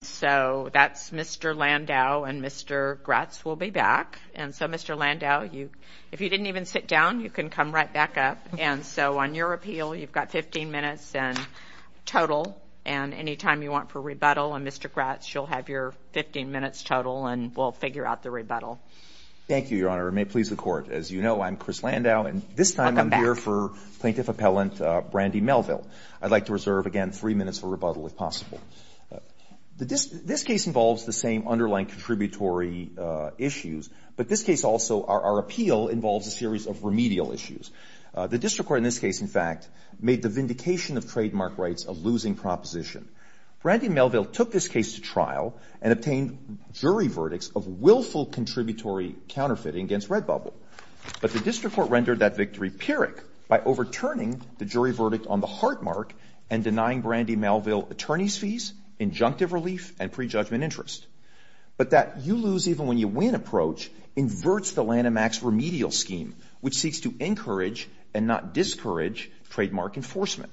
So that's Mr. Landau, and Mr. Gratz will be back. And so, Mr. Landau, if you didn't even sit down, you can come right back up. And so on your appeal, you've got 15 minutes in total. And any time you want for rebuttal on Mr. Gratz, you'll have your 15 minutes total, and we'll figure out the rebuttal. Thank you, Your Honor. It may please the Court. As you know, I'm Chris Landau. And this time, I'm here for plaintiff appellant Brandy Melville. I'd like to reserve, again, three minutes for rebuttal if possible. This case involves the same underlying contributory issues. But this case also, our appeal, involves a series of remedial issues. The district court in this case, in fact, made the vindication of trademark rights a losing proposition. Brandy Melville took this case to trial and obtained jury verdicts of willful contributory counterfeiting against Redbubble. But the district court rendered that victory pyrrhic by overturning the jury verdict on the heartmark and denying Brandy Melville attorney's fees, injunctive relief, and prejudgment interest. But that you lose even when you win approach inverts the Lanham Act's remedial scheme, which seeks to encourage and not discourage trademark enforcement.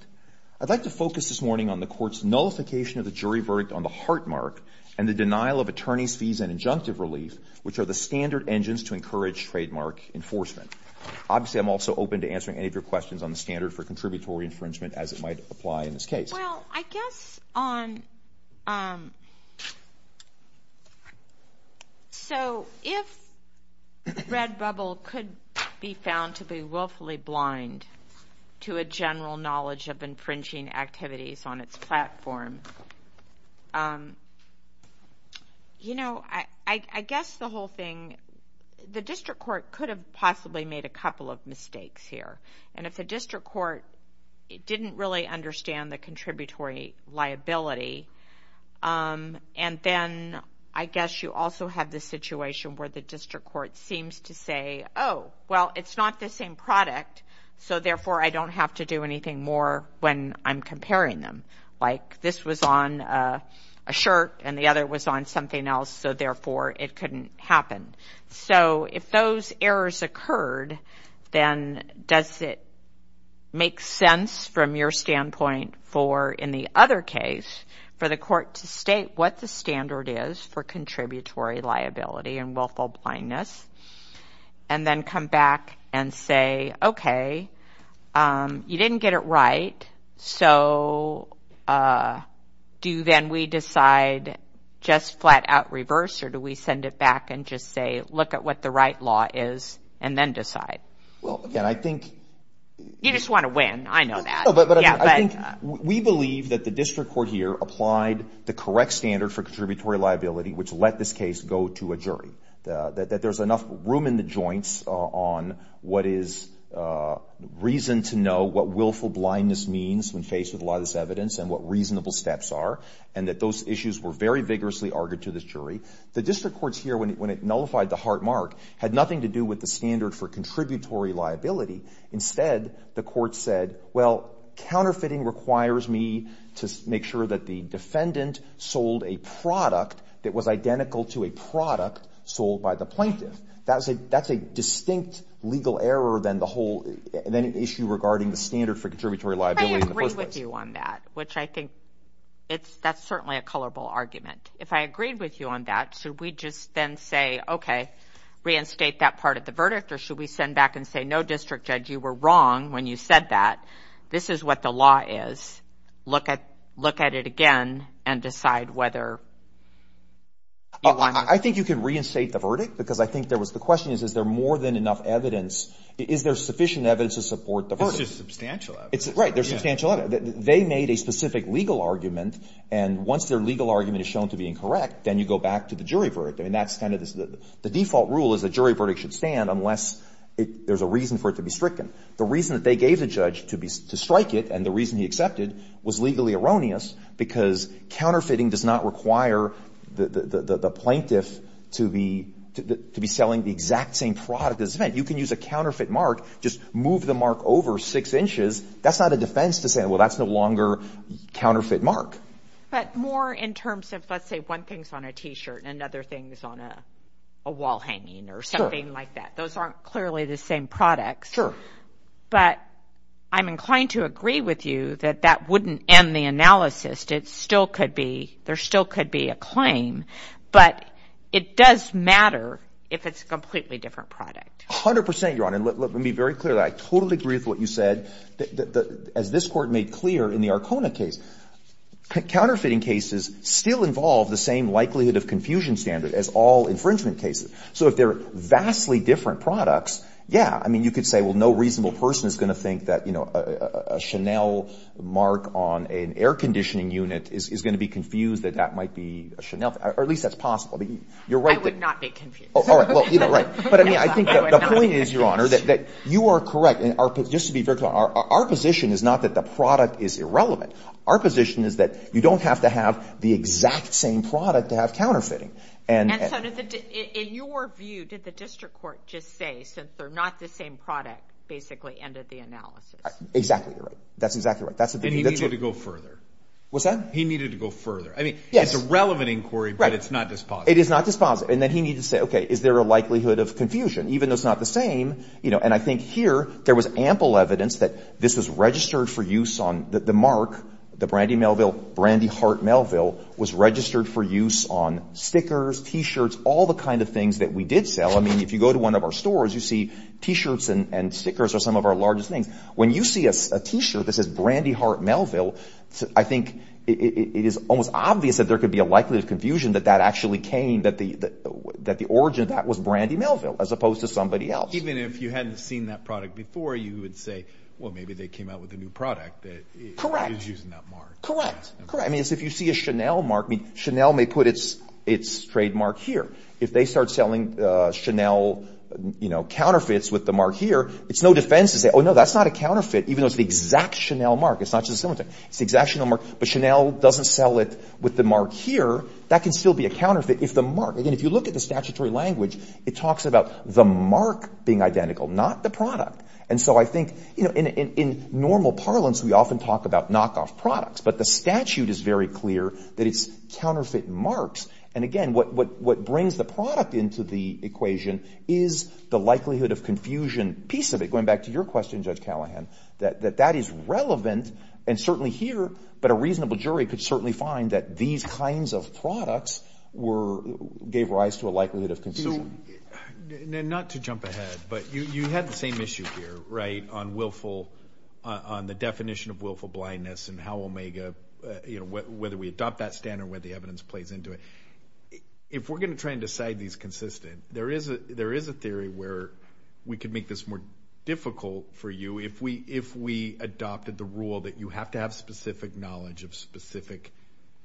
I'd like to focus this morning on the court's nullification of the jury verdict on the heartmark and the denial of attorney's fees and injunctive relief, which are the standard engines to encourage trademark enforcement. Obviously, I'm also open to answering any of your questions on the standard for contributory infringement, as it might apply in this case. Well, I guess on, so if Redbubble could be found to be willfully blind to a general knowledge of infringing activities on its platform, you know, I guess the whole thing, the district court could have possibly made a couple of mistakes here. And if the district court didn't really understand the contributory liability, and then I guess you also have the situation where the district court seems to say, oh, well, it's not the same product, so therefore I don't have to do anything more when I'm comparing them. Like this was on a shirt and the other was on something else, so therefore it couldn't happen. So if those errors occurred, then does it make sense from your standpoint for in the other case, for the court to state what the standard is for contributory liability and willful blindness, and then come back and say, okay, you didn't get it right, so do then we decide just flat out reverse or do we send it back and just say, look at what the right law is and then decide? Well, again, I think. You just want to win, I know that. But I think we believe that the district court here applied the correct standard for contributory liability, which let this case go to a jury, that there's enough room in the joints on what is reason to know what willful blindness means when faced with a lot of this evidence and what reasonable steps are, and that those issues were very vigorously argued to this jury. The district courts here, when it nullified the hard mark, had nothing to do with the standard for contributory liability. Instead, the court said, well, counterfeiting requires me to make sure that the defendant sold a product that was identical to a product sold by the plaintiff. That's a distinct legal error than the whole, than an issue regarding the standard for contributory liability in the first place. If I agree with you on that, which I think that's certainly a colorful argument. If I agreed with you on that, should we just then say, okay, reinstate that part of the verdict, or should we send back and say, no, district judge, you were wrong when you said that. This is what the law is. Look at it again and decide whether you want to. I think you can reinstate the verdict because I think there was, the question is, is there more than enough evidence, is there sufficient evidence to support the verdict? It's just substantial evidence. Right, there's substantial evidence. They made a specific legal argument, and once their legal argument is shown to be incorrect, then you go back to the jury verdict. I mean, that's kind of the default rule is the jury verdict should stand unless there's a reason for it to be stricken. The reason that they gave the judge to strike it, and the reason he accepted, was legally erroneous because counterfeiting does not require the plaintiff to be selling the exact same product as it's meant. You can use a counterfeit mark, just move the mark over six inches. That's not a defense to say, well, that's no longer counterfeit mark. But more in terms of, let's say, one thing's on a T-shirt, and another thing's on a wall hanging, or something like that. Those aren't clearly the same products. But I'm inclined to agree with you that that wouldn't end the analysis. It still could be, there still could be a claim, but it does matter if it's a completely different product. 100%, Your Honor, and let me be very clear, I totally agree with what you said. As this court made clear in the Arcona case, counterfeiting cases still involve the same likelihood of confusion standard as all infringement cases. So if they're vastly different products, yeah, I mean, you could say, well, no reasonable person is gonna think that a Chanel mark on an air conditioning unit is gonna be confused that that might be a Chanel, or at least that's possible. You're right that- I would not be confused. All right, well, you know, right. But I mean, I think the point is, Your Honor, that you are correct, and just to be very clear, our position is not that the product is irrelevant. Our position is that you don't have to have the exact same product to have counterfeiting. And- And so in your view, did the district court just say, since they're not the same product, basically ended the analysis? Exactly, you're right. That's exactly right. That's what- And he needed to go further. What's that? He needed to go further. I mean, it's a relevant inquiry, but it's not dispositive. It is not dispositive. And then he needed to say, okay, is there a likelihood of confusion? Even though it's not the same, you know, and I think here there was ample evidence that this was registered for use on the mark, the Brandy Melville, Brandy Heart Melville, was registered for use on stickers, T-shirts, all the kinds of things that we did sell. I mean, if you go to one of our stores, you see T-shirts and stickers are some of our largest things. When you see a T-shirt that says Brandy Heart Melville, I think it is almost obvious that there could be a likelihood of confusion that that actually came, that the origin of that was Brandy Melville, as opposed to somebody else. Even if you hadn't seen that product before, you would say, well, maybe they came out with a new product that is using that mark. Correct, correct. I mean, if you see a Chanel mark, Chanel may put its trademark here. If they start selling Chanel counterfeits with the mark here, it's no defense to say, oh, no, that's not a counterfeit, even though it's the exact Chanel mark. It's not just a similar thing. It's the exact Chanel mark, but Chanel doesn't sell it with the mark here. That can still be a counterfeit if the mark, again, if you look at the statutory language, it talks about the mark being identical, not the product. And so I think, in normal parlance, we often talk about knockoff products, but the statute is very clear that it's counterfeit marks. And again, what brings the product into the equation is the likelihood of confusion piece of it, going back to your question, Judge Callahan, that that is relevant, and certainly here, but a reasonable jury could certainly find that these kinds of products gave rise to a likelihood of confusion. And not to jump ahead, but you had the same issue here, right, on willful, on the definition of willful blindness and how Omega, whether we adopt that standard, whether the evidence plays into it. If we're gonna try and decide these consistent, there is a theory where we could make this more difficult for you if we adopted the rule that you have to have specific knowledge of specific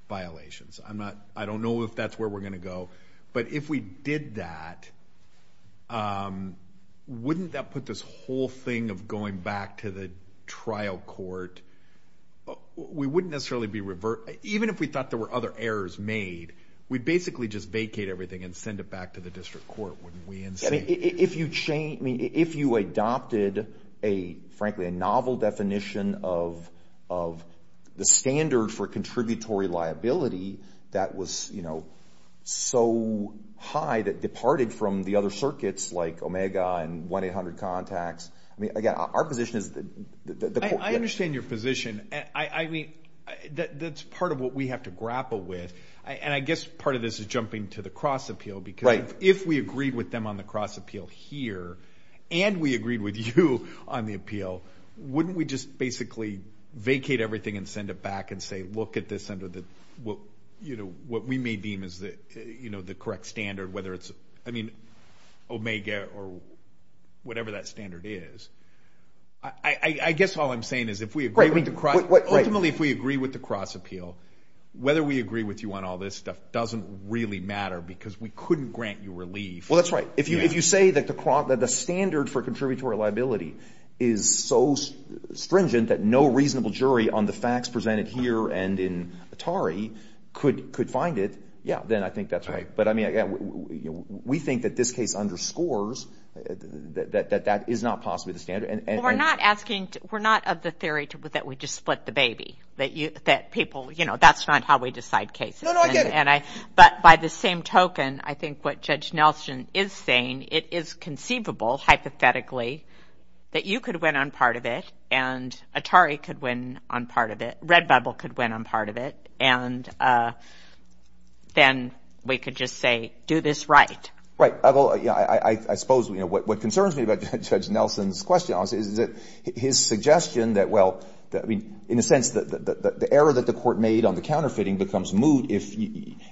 violations. I'm not, I don't know if that's where we're gonna go, but if we did that, wouldn't that put this whole thing of going back to the trial court, we wouldn't necessarily be, even if we thought there were other errors made, we'd basically just vacate everything and send it back to the district court, wouldn't we? And say- If you change, I mean, if you adopted a, frankly, a novel definition of the standard for contributory liability that was, you know, so high that departed from the other circuits like Omega and 1-800-CONTACTS. I mean, again, our position is that the court- I understand your position. I mean, that's part of what we have to grapple with. And I guess part of this is jumping to the cross appeal because if we agreed with them on the cross appeal here and we agreed with you on the appeal, wouldn't we just basically vacate everything and send it back and say, look at this under the, well, you know, what we may deem as the correct standard, whether it's, I mean, Omega or whatever that standard is. I guess all I'm saying is if we agree with the cross- Ultimately, if we agree with the cross appeal, whether we agree with you on all this stuff doesn't really matter because we couldn't grant you relief. Well, that's right. If you say that the standard for contributory liability is so stringent that no reasonable jury on the facts presented here and in Atari could find it, yeah, then I think that's right. But I mean, we think that this case underscores that that is not possibly the standard. We're not asking, we're not of the theory that we just split the baby, that people, you know, that's not how we decide cases. No, no, I get it. But by the same token, I think what Judge Nelson is saying, it is conceivable, hypothetically, that you could win on part of it and Atari could win on part of it, Redbubble could win on part of it, and then we could just say, do this right. Right, I suppose what concerns me about Judge Nelson's question, honestly, is that his suggestion that, well, I mean, in a sense, the error that the court made on the counterfeiting becomes moot if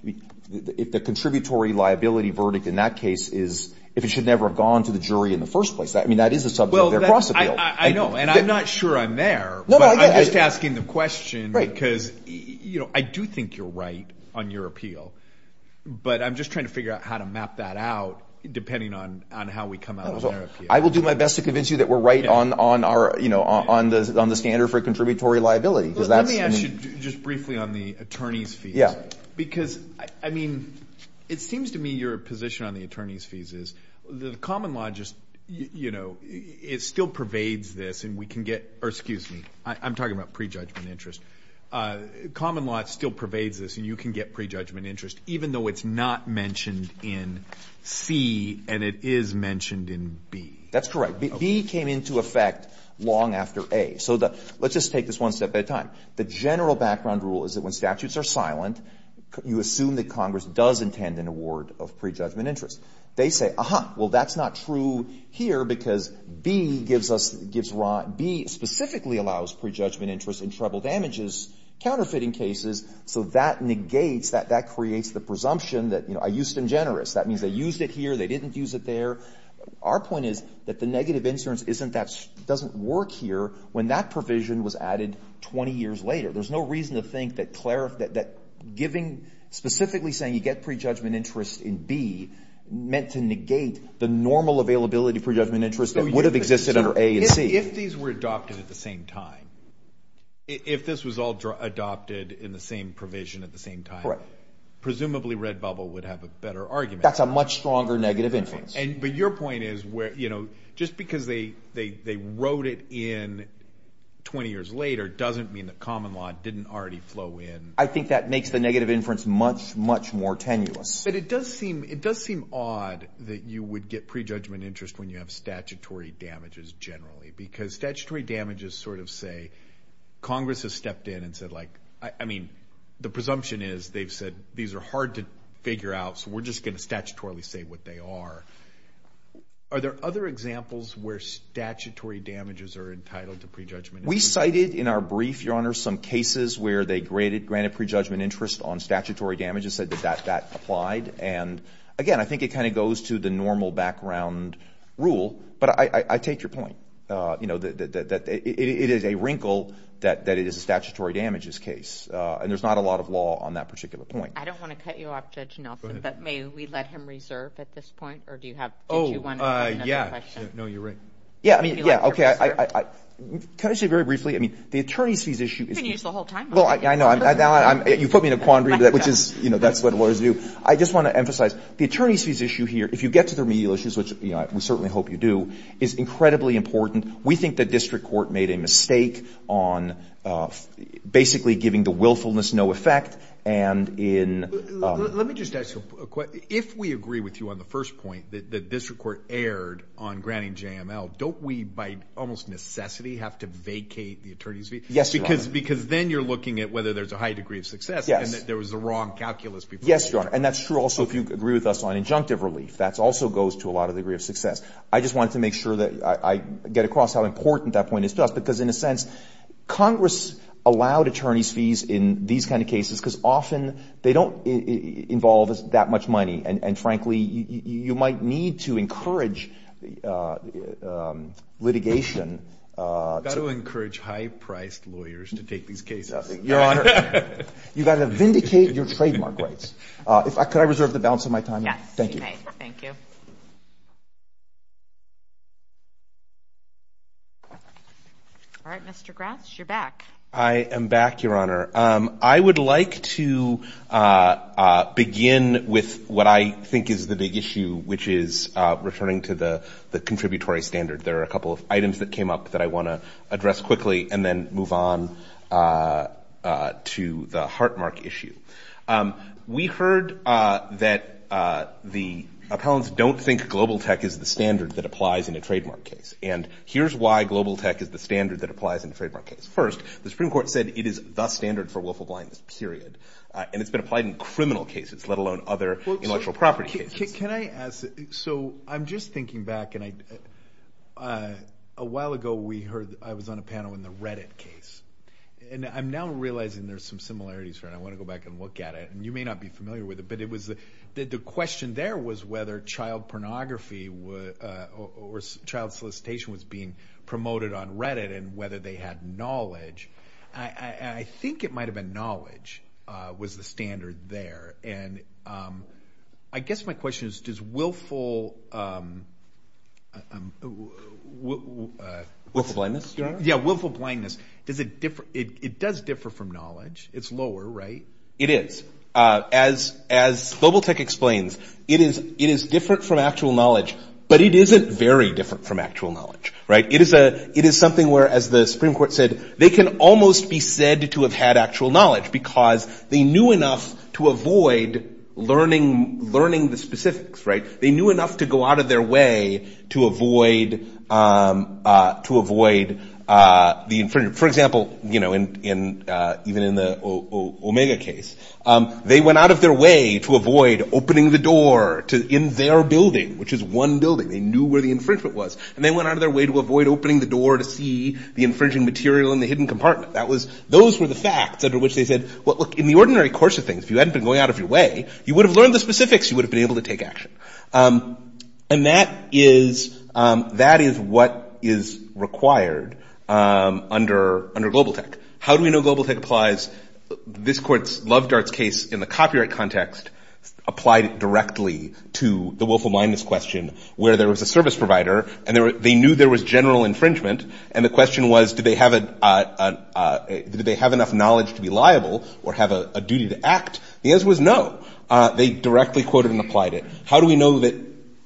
the contributory liability verdict in that case is if it should never have gone to the jury in the first place. I mean, that is a subject of their cross appeal. I know, and I'm not sure I'm there, but I'm just asking the question because I do think you're right on your appeal, but I'm just trying to figure out how to map that out depending on how we come out of their appeal. I will do my best to convince you that we're right on the standard for contributory liability, because that's, I mean. Let me ask you just briefly on the attorney's fees. Because, I mean, it seems to me your position on the attorney's fees is the common law just, it still pervades this and we can get, or excuse me, I'm talking about prejudgment interest. Common law still pervades this and you can get prejudgment interest even though it's not mentioned in C and it is mentioned in B. That's correct. B came into effect long after A. So let's just take this one step at a time. The general background rule is that when statutes are silent, you assume that Congress does intend an award of prejudgment interest. They say, aha, well, that's not true here because B specifically allows prejudgment interest in trouble damages, counterfeiting cases. So that negates, that creates the presumption that I used it in generous. That means they used it here, they didn't use it there. Our point is that the negative insurance isn't that, doesn't work here when that provision was added 20 years later. There's no reason to think that giving, specifically saying you get prejudgment interest in B, meant to negate the normal availability of prejudgment interest that would have existed under A and C. If these were adopted at the same time, if this was all adopted in the same provision at the same time, presumably Redbubble would have a better argument. That's a much stronger negative inference. But your point is where, just because they wrote it in 20 years later doesn't mean that common law didn't already flow in. I think that makes the negative inference much, much more tenuous. But it does seem odd that you would get prejudgment interest when you have statutory damages generally. Because statutory damages sort of say, Congress has stepped in and said like, I mean, the presumption is they've said these are hard to figure out, so we're just gonna statutorily say what they are. Are there other examples where statutory damages are entitled to prejudgment interest? We cited in our brief, Your Honor, some cases where they granted prejudgment interest on statutory damages, said that that applied. And again, I think it kind of goes to the normal background rule. But I take your point. It is a wrinkle that it is a statutory damages case. And there's not a lot of law on that particular point. I don't want to cut you off, Judge Nelson, but may we let him reserve at this point? Or do you have, did you want to ask another question? No, you're right. Yeah, I mean, yeah. Okay, can I just say very briefly, I mean, the attorney's fees issue is- You can use the whole time. Well, I know, you put me in a quandary, which is, you know, that's what lawyers do. I just want to emphasize, the attorney's fees issue here, if you get to the remedial issues, which we certainly hope you do, is incredibly important. We think the district court made a mistake on basically giving the willfulness no effect, and in- Let me just ask you a quick, if we agree with you on the first point, that the district court erred on granting JML, have to vacate the attorney's fees? Yes, Your Honor. Because then you're looking at whether there's a high degree of success, and that there was a wrong calculus before. Yes, Your Honor, and that's true also if you agree with us on injunctive relief. That also goes to a lot of degree of success. I just wanted to make sure that I get across how important that point is to us, because in a sense, Congress allowed attorney's fees in these kind of cases, because often they don't involve that much money, and frankly, you might need to encourage litigation- I would also encourage high-priced lawyers to take these cases. Your Honor, you've got to vindicate your trademark rights. Could I reserve the balance of my time? Yes, you may. Thank you. Thank you. All right, Mr. Grasch, you're back. I am back, Your Honor. I would like to begin with what I think is the big issue, which is returning to the contributory standard. There are a couple of items that came up that I want to address quickly, and then move on to the heartmark issue. We heard that the appellants don't think global tech is the standard that applies in a trademark case, and here's why global tech is the standard that applies in a trademark case. First, the Supreme Court said it is the standard for willful blindness, period, and it's been applied in criminal cases, let alone other intellectual property cases. Can I ask, so I'm just thinking back, and a while ago, I was on a panel in the Reddit case, and I'm now realizing there's some similarities here, and I want to go back and look at it, and you may not be familiar with it, but the question there was whether child pornography or child solicitation was being promoted on Reddit, and whether they had knowledge. I think it might have been knowledge was the standard there, and I guess my question is, is willful... Willful blindness? Yeah, willful blindness, it does differ from knowledge. It's lower, right? It is. As global tech explains, it is different from actual knowledge, but it isn't very different from actual knowledge. It is something where, as the Supreme Court said, they can almost be said to have had actual knowledge because they knew enough to avoid learning the specifics. They knew enough to go out of their way to avoid the infringement. For example, even in the Omega case, they went out of their way to avoid opening the door in their building, which is one building. They knew where the infringement was, and they went out of their way to avoid opening the door to see the infringing material in the hidden compartment. Those were the facts under which they said, well, look, in the ordinary course of things, if you hadn't been going out of your way, you would have learned the specifics. You would have been able to take action. And that is what is required under global tech. How do we know global tech applies? This court's Loved Arts case, in the copyright context, applied it directly to the willful blindness question where there was a service provider, and they knew there was general infringement, and the question was, did they have enough knowledge to be liable or have a duty to act? The answer was no. They directly quoted and applied it. How do we know that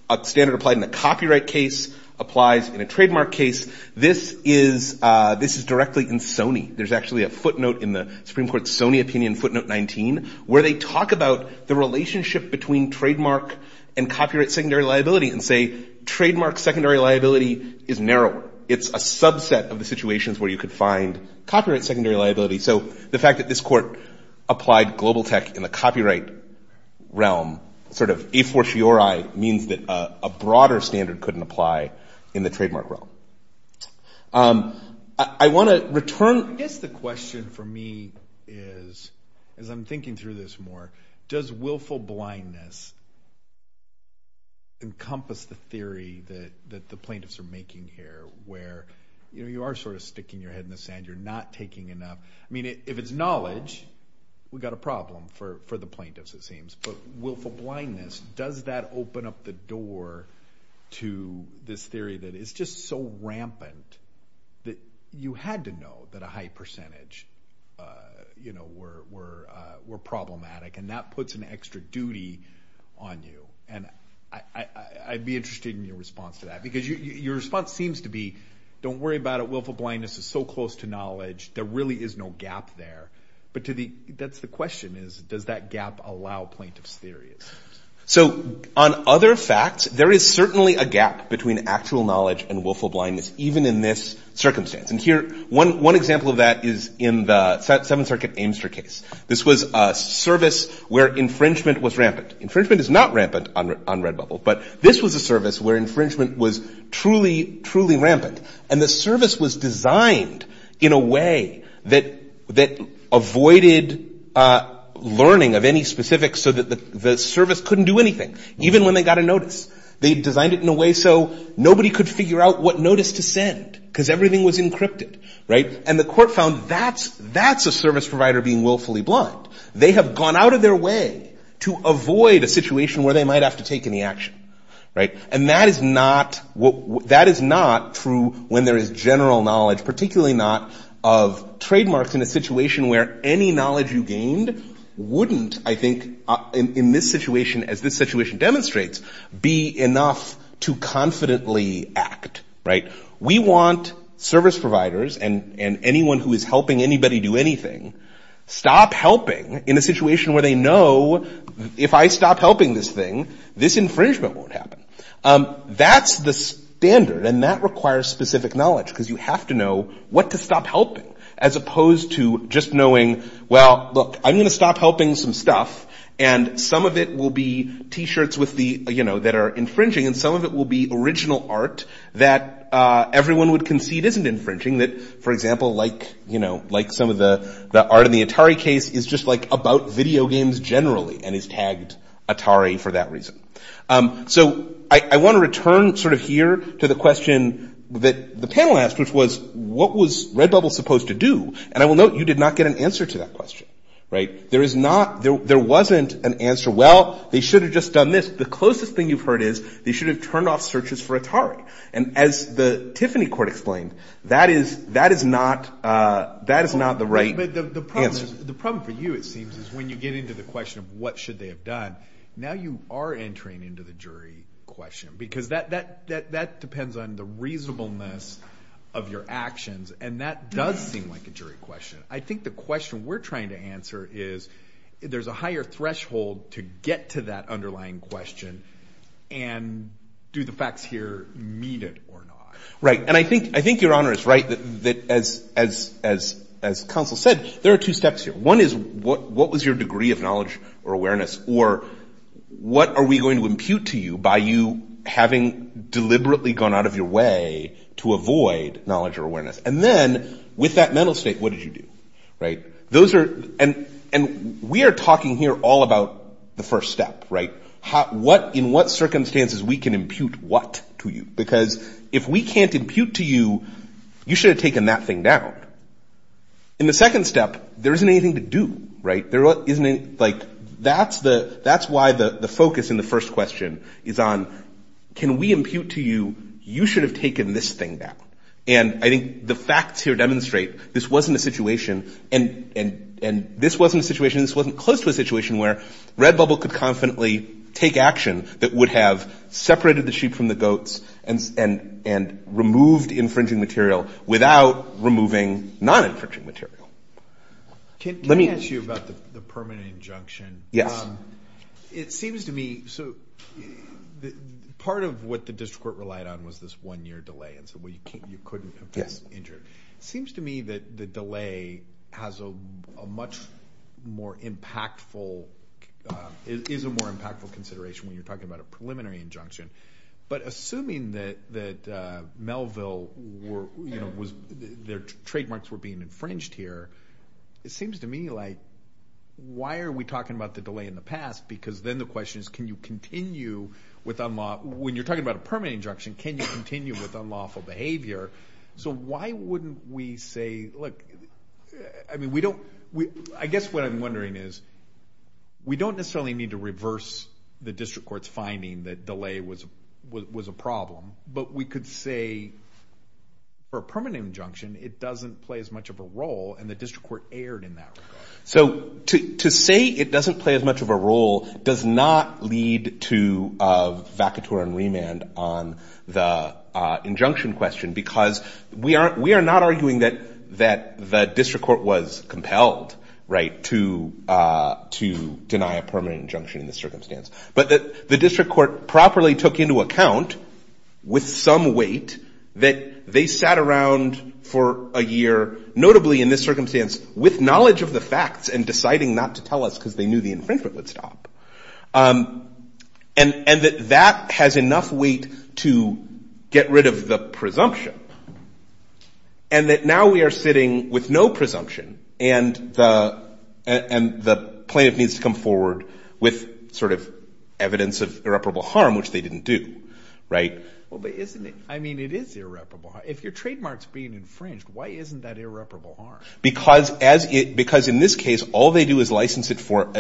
a standard applied in a copyright case applies in a trademark case? This is directly in Sony. There's actually a footnote in the Supreme Court's Sony opinion footnote 19 where they talk about the relationship between trademark and copyright secondary liability and say, trademark secondary liability is narrow. It's a subset of the situations where you could find copyright secondary liability. So the fact that this court applied global tech in the copyright realm, sort of a fortiori, means that a broader standard couldn't apply in the trademark realm. I wanna return. Yes, the question for me is, as I'm thinking through this more, does willful blindness encompass the theory that the plaintiffs are making here where you are sort of sticking your head in the sand, you're not taking enough. I mean, if it's knowledge, we got a problem. For the plaintiffs, it seems. But willful blindness, does that open up the door to this theory that is just so rampant that you had to know that a high percentage were problematic and that puts an extra duty on you? And I'd be interested in your response to that because your response seems to be, don't worry about it. Willful blindness is so close to knowledge. There really is no gap there. But that's the question is, does that gap allow plaintiff's theories? So on other facts, there is certainly a gap between actual knowledge and willful blindness, even in this circumstance. And here, one example of that is in the Seventh Circuit Amester case. This was a service where infringement was rampant. Infringement is not rampant on Redbubble, but this was a service where infringement was truly, truly rampant. And the service was designed in a way that avoided learning of any specifics so that the service couldn't do anything, even when they got a notice. They designed it in a way so nobody could figure out what notice to send, because everything was encrypted. And the court found that's a service provider being willfully blind. They have gone out of their way to avoid a situation where they might have to take any action. And that is not true when there is general knowledge, particularly not of trademarks in a situation where any knowledge you gained wouldn't, I think, in this situation, as this situation demonstrates, be enough to confidently act, right? We want service providers and anyone who is helping anybody do anything, stop helping in a situation where they know, if I stop helping this thing, this infringement won't happen. That's the standard, and that requires specific knowledge, because you have to know what to stop helping, as opposed to just knowing, well, look, I'm gonna stop helping some stuff, and some of it will be T-shirts that are infringing, and some of it will be original art that everyone would concede isn't infringing, that, for example, like some of the art in the Atari case is just about video games generally and is tagged Atari for that reason. So I wanna return sort of here to the question that the panel asked, which was, what was Redbubble supposed to do? And I will note, you did not get an answer to that question, right? There is not, there wasn't an answer, well, they should have just done this. The closest thing you've heard is they should have turned off searches for Atari, and as the Tiffany court explained, that is not the right answer. The problem for you, it seems, is when you get into the question of what should they have done, now you are entering into the jury question, because that depends on the reasonableness of your actions, and that does seem like a jury question. I think the question we're trying to answer is there's a higher threshold to get to that underlying question, and do the facts here meet it or not? Right, and I think your honor is right, that as counsel said, there are two steps here. One is what was your degree of knowledge or awareness, or what are we going to impute to you by you having deliberately gone out of your way to avoid knowledge or awareness? And then, with that mental state, what did you do, right? Those are, and we are talking here all about the first step, right? What, in what circumstances we can impute what to you? Because if we can't impute to you, you should have taken that thing down. In the second step, there isn't anything to do, right? There isn't, like, that's why the focus in the first question is on, can we impute to you, you should have taken this thing down? And I think the facts here demonstrate this wasn't a situation, and this wasn't a situation, this wasn't close to a situation where Redbubble could confidently take action that would have separated the sheep from the goats and removed infringing material without removing non-infringing material. Let me- Can I ask you about the permanent injunction? Yes. It seems to me, so, part of what the district court relied on was this one-year delay, and so you couldn't have this injured. Seems to me that the delay has a much more impactful, is a more impactful consideration when you're talking about a preliminary injunction. But assuming that Melville was, their trademarks were being infringed here, it seems to me like, why are we talking about the delay in the past? Because then the question is, can you continue with unlawful, when you're talking about a permanent injunction, can you continue with unlawful behavior? So why wouldn't we say, look, I mean, we don't, I guess what I'm wondering is, we don't necessarily need to reverse the district court's finding that delay was a problem, but we could say, for a permanent injunction, it doesn't play as much of a role, and the district court erred in that regard. So to say it doesn't play as much of a role does not lead to a vacatur and remand on the injunction question, because we are not arguing that the district court was compelled to deny a permanent injunction in this circumstance, but that the district court properly took into account, with some weight, that they sat around for a year, notably in this circumstance, with knowledge of the facts, and deciding not to tell us, because they knew the infringement would stop. And that that has enough weight to get rid of the presumption. And that now we are sitting with no presumption, and the plaintiff needs to come forward with sort of evidence of irreparable harm, which they didn't do, right? Well, but isn't it, I mean, it is irreparable. If your trademark's being infringed, why isn't that irreparable harm? Because as it, because in this case, all they do is license it for,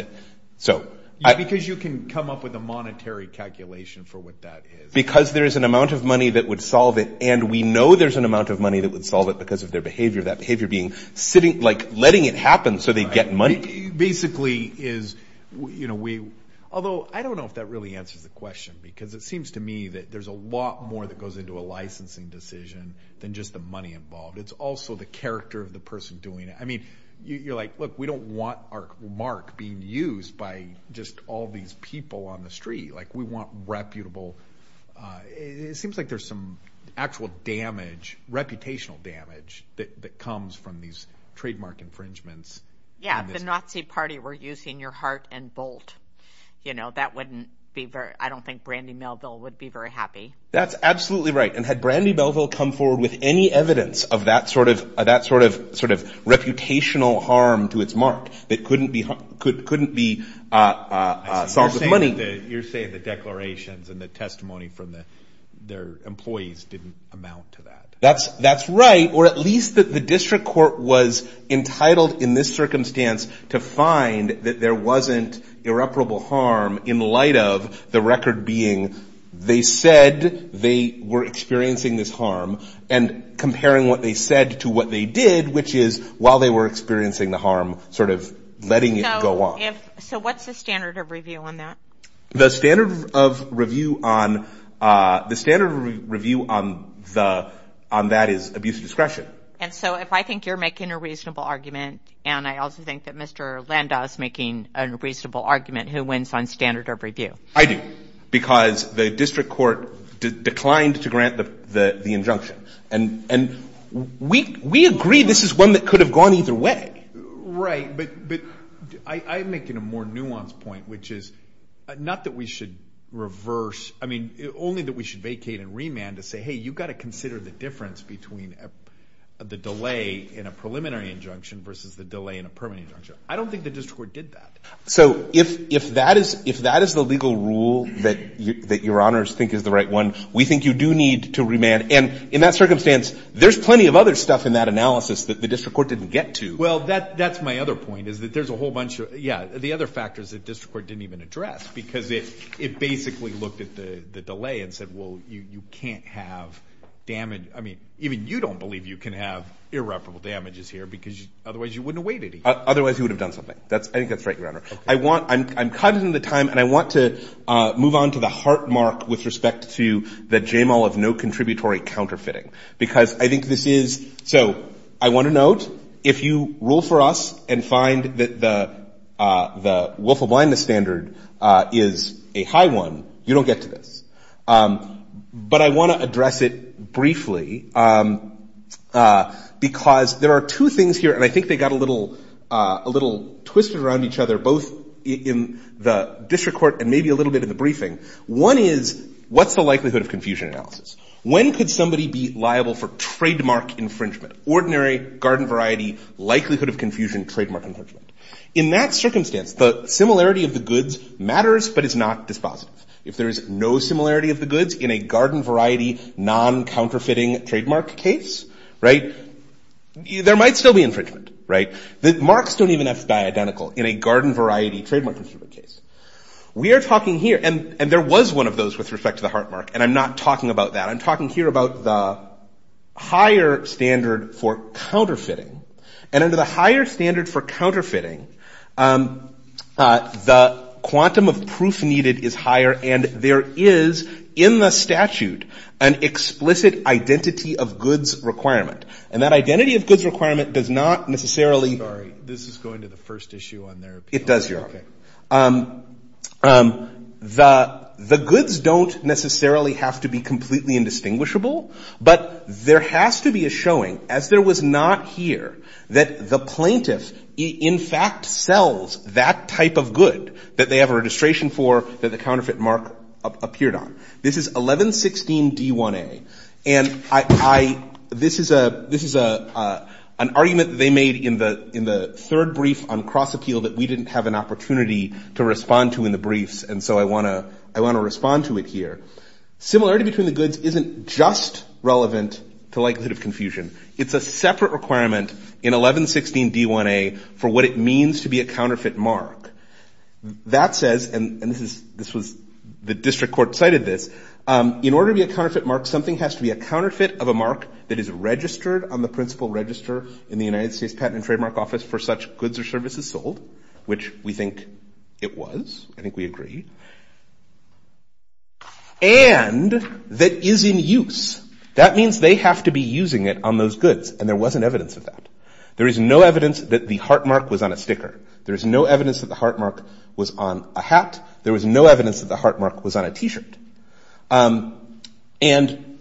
so. Because you can come up with a monetary calculation for what that is. Because there is an amount of money that would solve it, and we know there's an amount of money that would solve it because of their behavior, that behavior being sitting, like letting it happen so they get money. Basically is, you know, we, although I don't know if that really answers the question, because it seems to me that there's a lot more that goes into a licensing decision than just the money involved. But it's also the character of the person doing it. I mean, you're like, look, we don't want our mark being used by just all these people on the street. Like, we want reputable, it seems like there's some actual damage, reputational damage that comes from these trademark infringements. Yeah, the Nazi party were using your heart and bolt. You know, that wouldn't be very, I don't think Brandy Melville would be very happy. That's absolutely right. And had Brandy Melville come forward with any evidence of that sort of, that sort of reputational harm to its mark, that couldn't be solved with money. You're saying the declarations and the testimony from their employees didn't amount to that. That's right, or at least that the district court was entitled in this circumstance to find that there wasn't irreparable harm in light of the record being, they said they were experiencing this harm. And comparing what they said to what they did, which is while they were experiencing the harm, sort of letting it go on. So what's the standard of review on that? The standard of review on, the standard review on that is abuse of discretion. And so if I think you're making a reasonable argument, and I also think that Mr. Landau's making a reasonable argument, who wins on standard of review? I do, because the district court declined to grant the injunction. And we agree this is one that could have gone either way. Right, but I'm making a more nuanced point, which is not that we should reverse, I mean, only that we should vacate and remand to say, hey, you've got to consider the difference between the delay in a preliminary injunction versus the delay in a permanent injunction. I don't think the district court did that. So if that is the legal rule that your honors think is the right one, we think you do need to remand. And in that circumstance, there's plenty of other stuff in that analysis that the district court didn't get to. Well, that's my other point, is that there's a whole bunch of, yeah, the other factors that district court didn't even address, because it basically looked at the delay and said, well, you can't have damage, I mean, even you don't believe you can have irreparable damages here, because otherwise you wouldn't have waited. Otherwise he would have done something. That's, I think that's right, your honor. I want, I'm cutting the time, and I want to move on to the heartmark with respect to the JAMAL of no contributory counterfeiting. Because I think this is, so I want to note, if you rule for us and find that the willful blindness standard is a high one, you don't get to this. But I want to address it briefly, because there are two things here, and I think they got a little twisted around each other, both in the district court and maybe a little bit in the briefing. One is, what's the likelihood of confusion analysis? When could somebody be liable for trademark infringement? Ordinary garden variety, likelihood of confusion, trademark infringement. In that circumstance, the similarity of the goods matters, but it's not dispositive. If there is no similarity of the goods in a garden variety non-counterfeiting trademark case, there might still be infringement. The marks don't even have to be identical in a garden variety trademark infringement case. We are talking here, and there was one of those with respect to the heart mark, and I'm not talking about that. I'm talking here about the higher standard for counterfeiting and under the higher standard for counterfeiting, the quantum of proof needed is higher and there is, in the statute, an explicit identity of goods requirement. And that identity of goods requirement does not necessarily- The goods don't necessarily have to be completely indistinguishable, but there has to be a showing, as there was not here, that the plaintiff in fact sells that type of good that they have a registration for that the counterfeit mark appeared on. This is 1116 D1A, and this is an argument they made in the third brief on cross-appeal that we didn't have an opportunity to respond to in the briefs, and so I want to respond to it here. Similarity between the goods isn't just relevant to likelihood of confusion. It's a separate requirement in 1116 D1A for what it means to be a counterfeit mark. That says, and this was, the district court cited this, in order to be a counterfeit mark, something has to be a counterfeit of a mark that is registered on the principal register in the United States Patent and Trademark Office for such goods or services sold, which we think it was. I think we agree. And that is in use. That means they have to be using it on those goods, and there wasn't evidence of that. There is no evidence that the heart mark was on a sticker. There is no evidence that the heart mark was on a hat. There was no evidence that the heart mark was on a T-shirt. And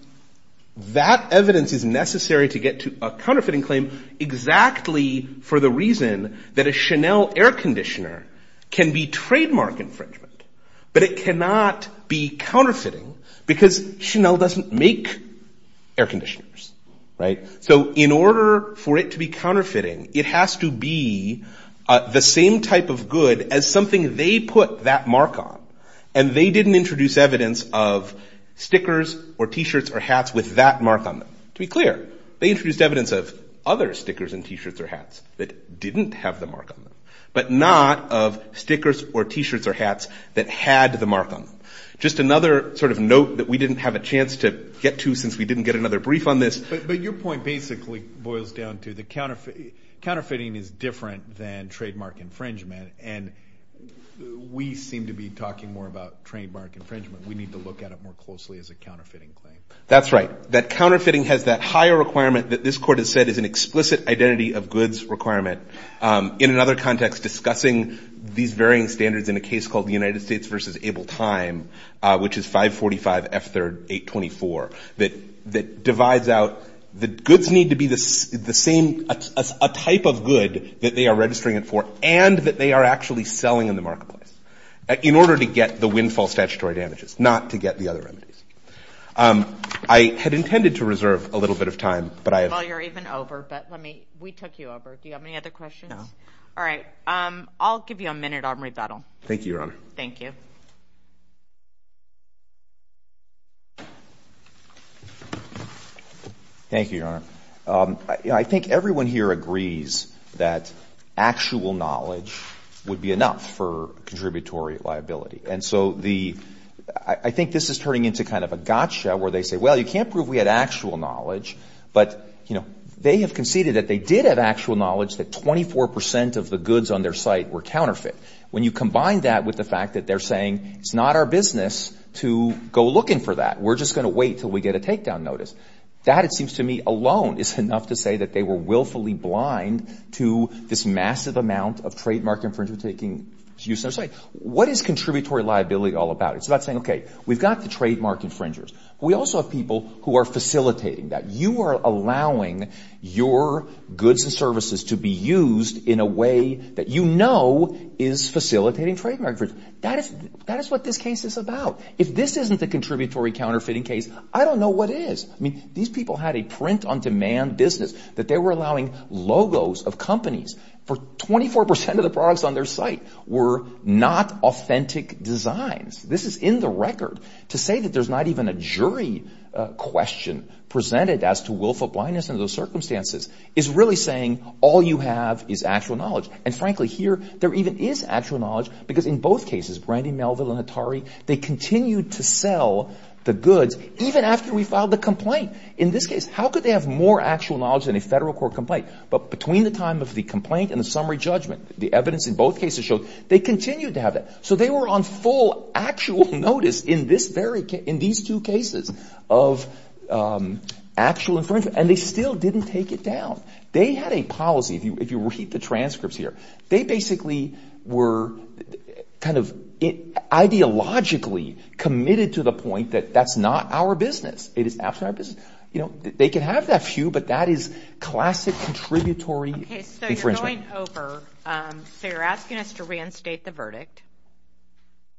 that evidence is necessary to get to a counterfeiting claim exactly for the reason that a Chanel air conditioner can be trademark infringement, but it cannot be counterfeiting because Chanel doesn't make air conditioners. So in order for it to be counterfeiting, it has to be the same type of good as something they put that mark on, and they didn't introduce evidence of stickers or T-shirts or hats with that mark on them. To be clear, they introduced evidence of other stickers and T-shirts or hats that didn't have the mark on them, but not of stickers or T-shirts or hats that had the mark on them. Just another sort of note that we didn't have a chance to get to since we didn't get another brief on this. But your point basically boils down to that counterfeiting is different than trademark infringement, and we seem to be talking more about trademark infringement. We need to look at it more closely as a counterfeiting claim. That's right. That counterfeiting has that higher requirement that this court has said is an explicit identity of goods requirement. In another context, discussing these varying standards in a case called the United States versus Able Time, which is 545 F3rd 824, that divides out the goods need to be the same, a type of good that they are registering it for, and that they are actually selling in the marketplace in order to get the windfall statutory damages, not to get the other remedies. I had intended to reserve a little bit of time, but I have- Well, you're even over, but let me, we took you over. Do you have any other questions? No. All right. I'll give you a minute. I'll read that all. Thank you, Your Honor. Thank you. Thank you, Your Honor. I think everyone here agrees that actual knowledge would be enough for contributory liability. And so the, I think this is turning into kind of a gotcha where they say, well, you can't prove we had actual knowledge but they have conceded that they did have actual knowledge that 24% of the goods on their site were counterfeit. When you combine that with the fact that they're saying, it's not our business to go looking for that. We're just gonna wait till we get a takedown notice. That, it seems to me, alone is enough to say that they were willfully blind to this massive amount of trademark infringement taking use on their site. What is contributory liability all about? It's about saying, okay, we've got the trademark infringers. We also have people who are facilitating that. You are allowing your goods and services to be used in a way that you know is facilitating trademark infringement. That is what this case is about. If this isn't the contributory counterfeiting case, I don't know what is. I mean, these people had a print-on-demand business that they were allowing logos of companies for 24% of the products on their site were not authentic designs. This is in the record. To say that there's not even a jury question presented as to willful blindness under those circumstances is really saying all you have is actual knowledge. And frankly, here, there even is actual knowledge because in both cases, Brandy Melville and Atari, they continued to sell the goods even after we filed the complaint. In this case, how could they have more actual knowledge than a federal court complaint? But between the time of the complaint and the summary judgment, the evidence in both cases showed they continued to have that. So they were on full actual notice in these two cases of actual infringement, and they still didn't take it down. They had a policy, if you read the transcripts here, they basically were kind of ideologically committed to the point that that's not our business. It is absolutely not our business. They can have that few, but that is classic contributory infringement. Okay, so you're going over, so you're asking us to reinstate the verdict.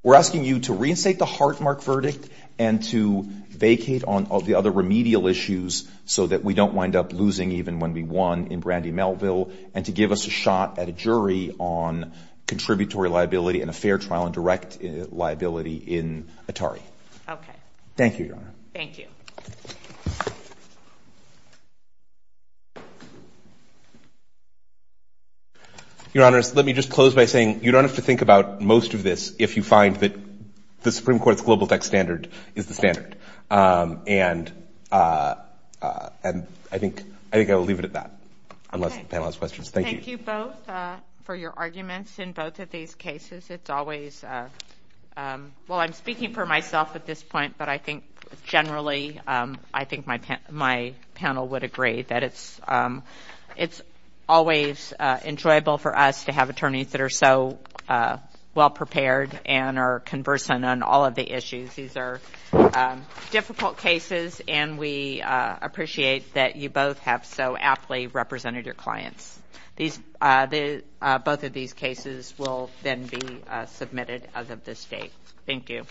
We're asking you to reinstate the Hartmark verdict and to vacate on all the other remedial issues so that we don't wind up losing even when we won in Brandy Melville, and to give us a shot at a jury on contributory liability and a fair trial and direct liability in Atari. Okay. Thank you, Your Honor. Thank you. Thank you. Your Honor, let me just close by saying you don't have to think about most of this if you find that the Supreme Court's global tax standard is the standard. And I think I will leave it at that, unless the panel has questions. Thank you. Thank you both for your arguments in both of these cases. It's always, well, I'm speaking for myself at this point, but I think generally, I think my panel would agree that it's always enjoyable for us to have attorneys that are so well-prepared and are conversant on all of the issues. These are difficult cases, and we appreciate that you both have so aptly represented your clients. Both of these cases will then be submitted as of this date. Thank you.